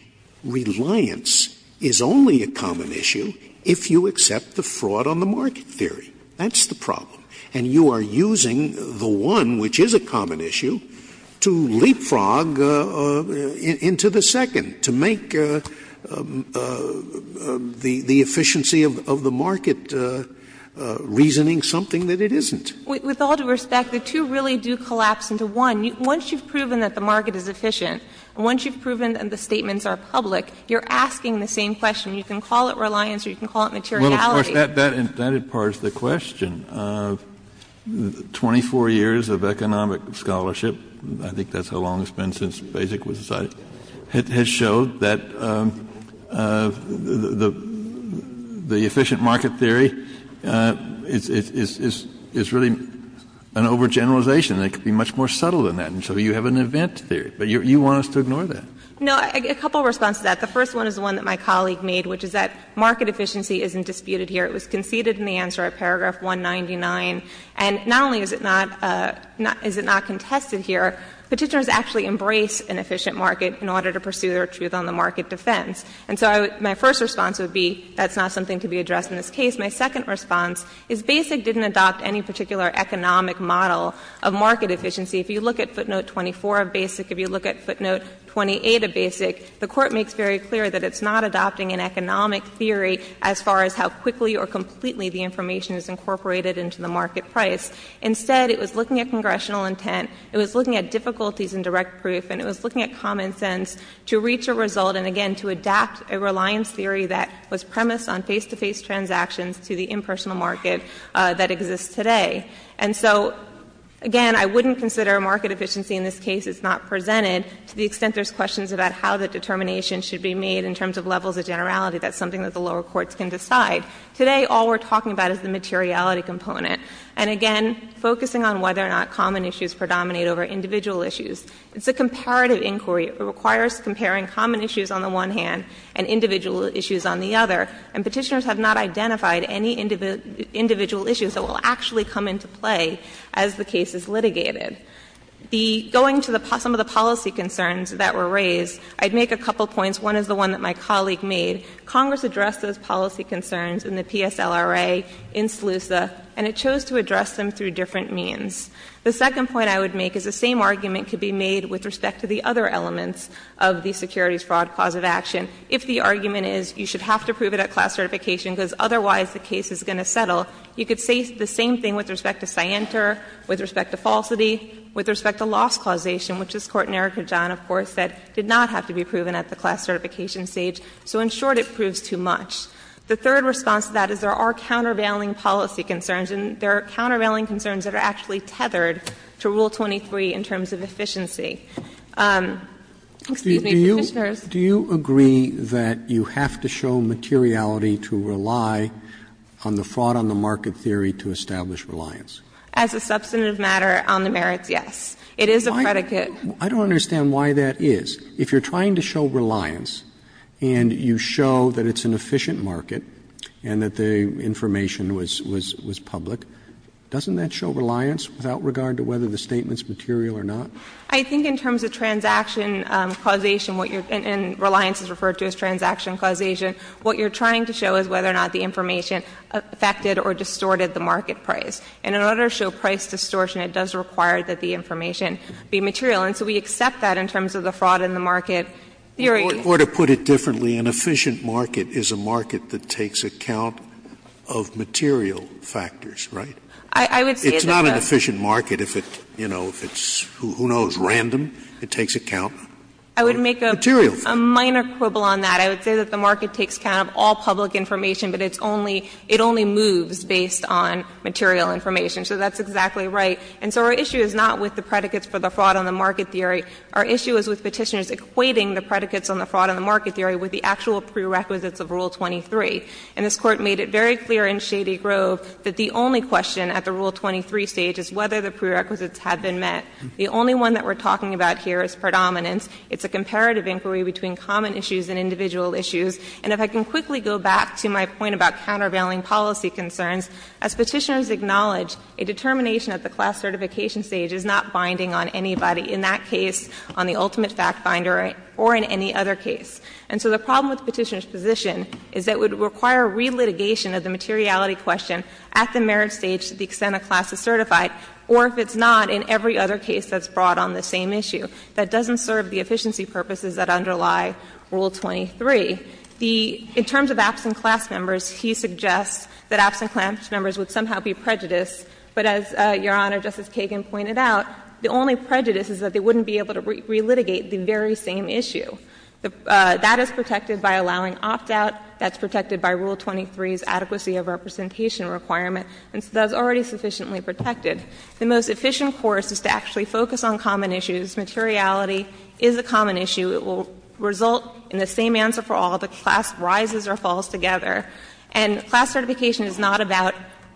Reliance is only a common issue if you accept the fraud on the market theory. That's the problem. And you are using the one which is a common issue to leapfrog into the second, to make the efficiency of the market reasoning something that it isn't. With all due respect, the two really do collapse into one. Once you've proven that the market is efficient, and once you've proven that the statements are public, you're asking the same question. You can call it reliance or you can call it materiality. Well, of course, that imparts the question of 24 years of economic scholarship — I think that's how long it's been since BASIC was decided — has showed that the efficient market theory is really an overgeneralization. It could be much more subtle than that. And so you have an event theory. But you want us to ignore that. No. A couple of responses to that. The first one is the one that my colleague made, which is that market efficiency isn't disputed here. It was conceded in the answer at paragraph 199. And not only is it not contested here, Petitioners actually embrace an efficient market in order to pursue their truth on the market defense. And so my first response would be that's not something to be addressed in this case. My second response is BASIC didn't adopt any particular economic model of market efficiency. If you look at footnote 24 of BASIC, if you look at footnote 28 of BASIC, the Court makes very clear that it's not adopting an economic theory as far as how quickly or completely the information is incorporated into the market price. Instead, it was looking at congressional intent. It was looking at difficulties in direct proof. And it was looking at common sense to reach a result and, again, to adapt a reliance theory that was premised on face-to-face transactions to the impersonal market that exists today. And so, again, I wouldn't consider market efficiency in this case is not presented to the extent there's questions about how the determination should be made in terms of levels of generality. That's something that the lower courts can decide. Today, all we're talking about is the materiality component. And, again, focusing on whether or not common issues predominate over individual issues. It's a comparative inquiry. It requires comparing common issues on the one hand and individual issues on the other. And Petitioners have not identified any individual issues that will actually come into play as the case is litigated. Going to some of the policy concerns that were raised, I'd make a couple points. One is the one that my colleague made. Congress addressed those policy concerns in the PSLRA, in SLUSA, and it chose to address them through different means. The second point I would make is the same argument could be made with respect to the other elements of the securities fraud cause of action. If the argument is you should have to prove it at class certification because otherwise the case is going to settle, you could say the same thing with respect to scienter, with respect to falsity, with respect to loss causation, which this Court in Erika John, of course, said did not have to be proven at the class certification stage. So, in short, it proves too much. The third response to that is there are countervailing policy concerns, and there are countervailing concerns that are actually tethered to Rule 23 in terms of efficiency. Excuse me, Petitioners. Roberts. Do you agree that you have to show materiality to rely on the fraud on the market theory to establish reliance? As a substantive matter, on the merits, yes. It is a predicate. I don't understand why that is. If you're trying to show reliance and you show that it's an efficient market and that the information was public, doesn't that show reliance without regard to whether the statement's material or not? I think in terms of transaction causation, what you're — and reliance is referred to as transaction causation. What you're trying to show is whether or not the information affected or distorted the market price. And in order to show price distortion, it does require that the information be material. And so we accept that in terms of the fraud in the market theory. Or to put it differently, an efficient market is a market that takes account of material factors, right? I would say that the — It's not an efficient market if it's, you know, if it's, who knows, random. It takes account of material factors. I would make a minor quibble on that. I would say that the market takes account of all public information, but it's only — it only moves based on material information. So that's exactly right. And so our issue is not with the predicates for the fraud on the market theory. Our issue is with Petitioners equating the predicates on the fraud on the market theory with the actual prerequisites of Rule 23. And this Court made it very clear in Shady Grove that the only question at the Rule 23 stage is whether the prerequisites have been met. The only one that we're talking about here is predominance. It's a comparative inquiry between common issues and individual issues. And if I can quickly go back to my point about countervailing policy concerns, as Petitioners acknowledge, a determination at the class certification stage is not binding on anybody, in that case on the ultimate fact finder or in any other case. And so the problem with Petitioners' position is that it would require relitigation of the materiality question at the merit stage to the extent a class is certified, or if it's not, in every other case that's brought on the same issue. That doesn't serve the efficiency purposes that underlie Rule 23. In terms of absent class members, he suggests that absent class members would somehow be prejudiced, but as Your Honor, Justice Kagan pointed out, the only prejudice is that they wouldn't be able to relitigate the very same issue. That is protected by allowing opt-out, that's protected by Rule 23's adequacy of representation requirement, and so that's already sufficiently protected. The most efficient course is to actually focus on common issues. Materiality is a common issue. It will result in the same answer for all, the class rises or falls together. And class certification is not about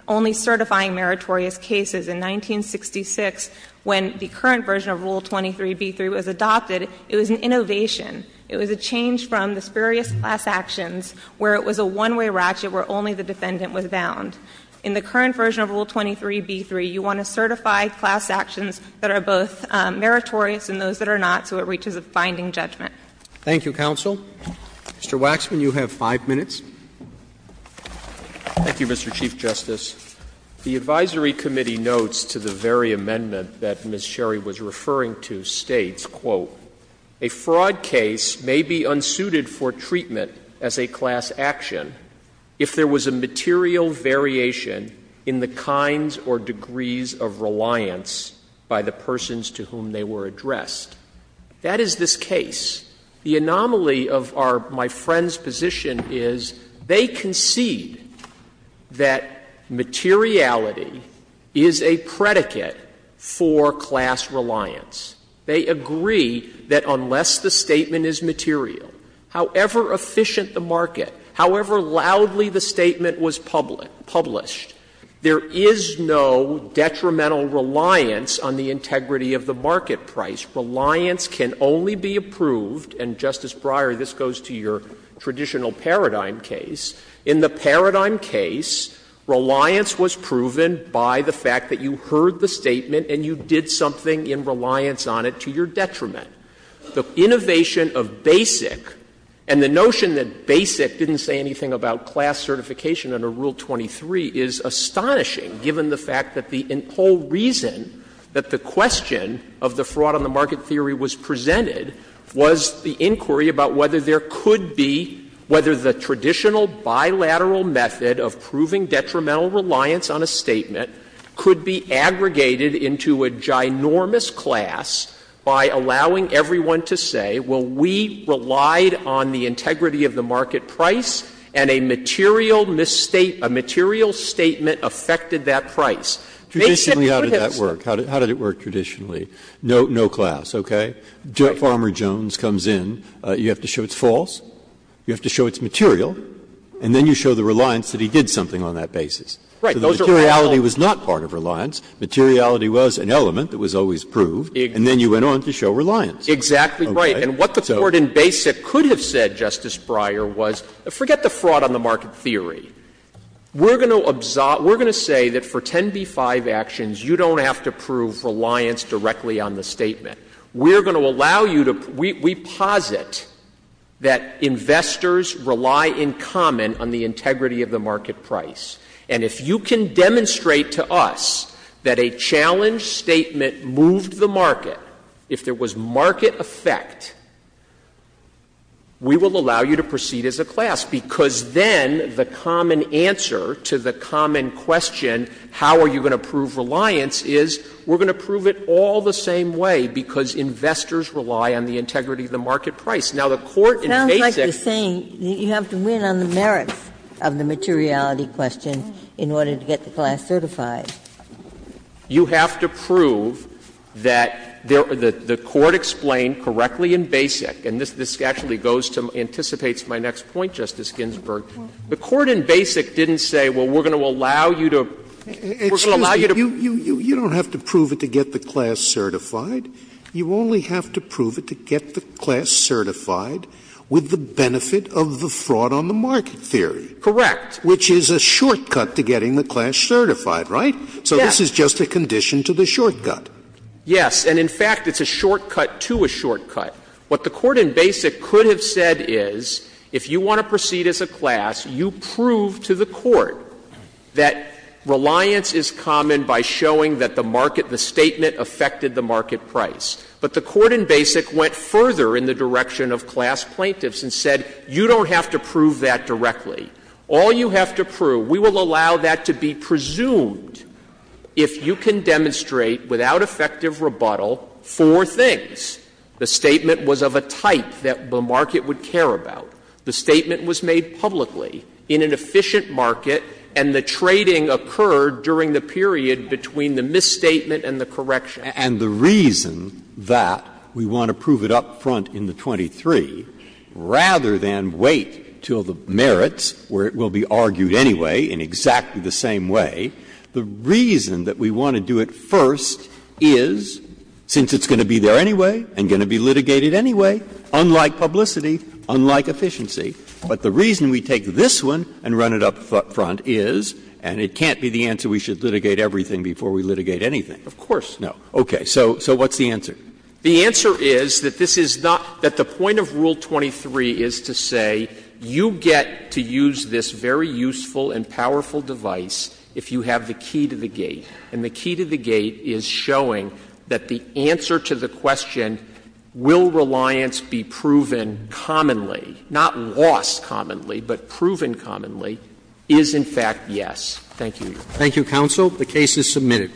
only certifying meritorious cases. In 1966, when the current version of Rule 23b3 was adopted, it was an innovation. It was a change from the spurious class actions, where it was a one-way ratchet where only the defendant was bound. In the current version of Rule 23b3, you want to certify class actions that are both meritorious and those that are not so it reaches a binding judgment. Thank you, counsel. Mr. Waxman, you have 5 minutes. Thank you, Mr. Chief Justice. The advisory committee notes to the very amendment that Ms. Sherry was referring to states, quote, ''A fraud case may be unsuited for treatment as a class action if there was a material variation in the kinds or degrees of reliance by the persons to whom they were addressed.'' That is this case. The anomaly of our my friend's position is they concede that materiality is a predicate for class reliance. They agree that unless the statement is material, however efficient the market, however loudly the statement was published, there is no detrimental reliance on the integrity of the market price. Reliance can only be approved, and, Justice Breyer, this goes to your traditional paradigm case. In the paradigm case, reliance was proven by the fact that you heard the statement and you did something in reliance on it to your detriment. The innovation of BASIC, and the notion that BASIC didn't say anything about class certification under Rule 23, is astonishing, given the fact that the whole reason that the question of the fraud on the market theory was presented was the inquiry about whether there could be, whether the traditional bilateral method of proving detrimental reliance on a statement could be aggregated into a ginormous class by allowing everyone to say, well, we relied on the integrity of the market price, and a material misstate, a material statement affected that price. They said it would have been. Breyer, how did that work? How did it work traditionally? No class, okay? Farmer Jones comes in. You have to show it's false. You have to show it's material. And then you show the reliance that he did something on that basis. So the materiality was not part of reliance. Materiality was an element that was always proved. And then you went on to show reliance. Exactly right. And what the Court in BASIC could have said, Justice Breyer, was forget the fraud on the market theory. We're going to say that for 10b-5 actions, you don't have to prove reliance directly on the statement. We're going to allow you to — we posit that investors rely in common on the integrity of the market price, and if you can demonstrate to us that a challenge statement moved the market, if there was market effect, we will allow you to proceed as a class. Because then the common answer to the common question, how are you going to prove reliance, is we're going to prove it all the same way, because investors rely on the integrity of the market price. Now, the Court in BASIC — It sounds like you're saying you have to win on the merits of the materiality question in order to get the class certified. You have to prove that the Court explained correctly in BASIC, and this actually goes to — anticipates my next point, Justice Ginsburg. The Court in BASIC didn't say, well, we're going to allow you to — we're going to allow you to — You don't have to prove it to get the class certified. You only have to prove it to get the class certified with the benefit of the fraud on the market theory. Correct. Which is a shortcut to getting the class certified, right? So this is just a condition to the shortcut. Yes. And in fact, it's a shortcut to a shortcut. What the Court in BASIC could have said is, if you want to proceed as a class, you prove to the court that reliance is common by showing that the market, the statement affected the market price. But the Court in BASIC went further in the direction of class plaintiffs and said, you don't have to prove that directly. All you have to prove, we will allow that to be presumed if you can demonstrate without effective rebuttal four things. The statement was of a type that the market would care about. The statement was made publicly in an efficient market, and the trading occurred during the period between the misstatement and the correction. And the reason that we want to prove it up front in the 23, rather than wait until the merits, where it will be argued anyway in exactly the same way, the reason that we want to do it first is, since it's going to be there anyway and going to be litigated anyway, unlike publicity, unlike efficiency, but the reason we take this one and run it up front is, and it can't be the answer we should litigate everything before we litigate anything. Of course. No. Okay. So what's the answer? The answer is that this is not — that the point of Rule 23 is to say, you get to use this very useful and powerful device if you have the key to the gate. And the key to the gate is showing that the answer to the question, will reliance be proven commonly, not lost commonly, but proven commonly, is, in fact, yes. Thank you. Roberts. Thank you, counsel. The case is submitted.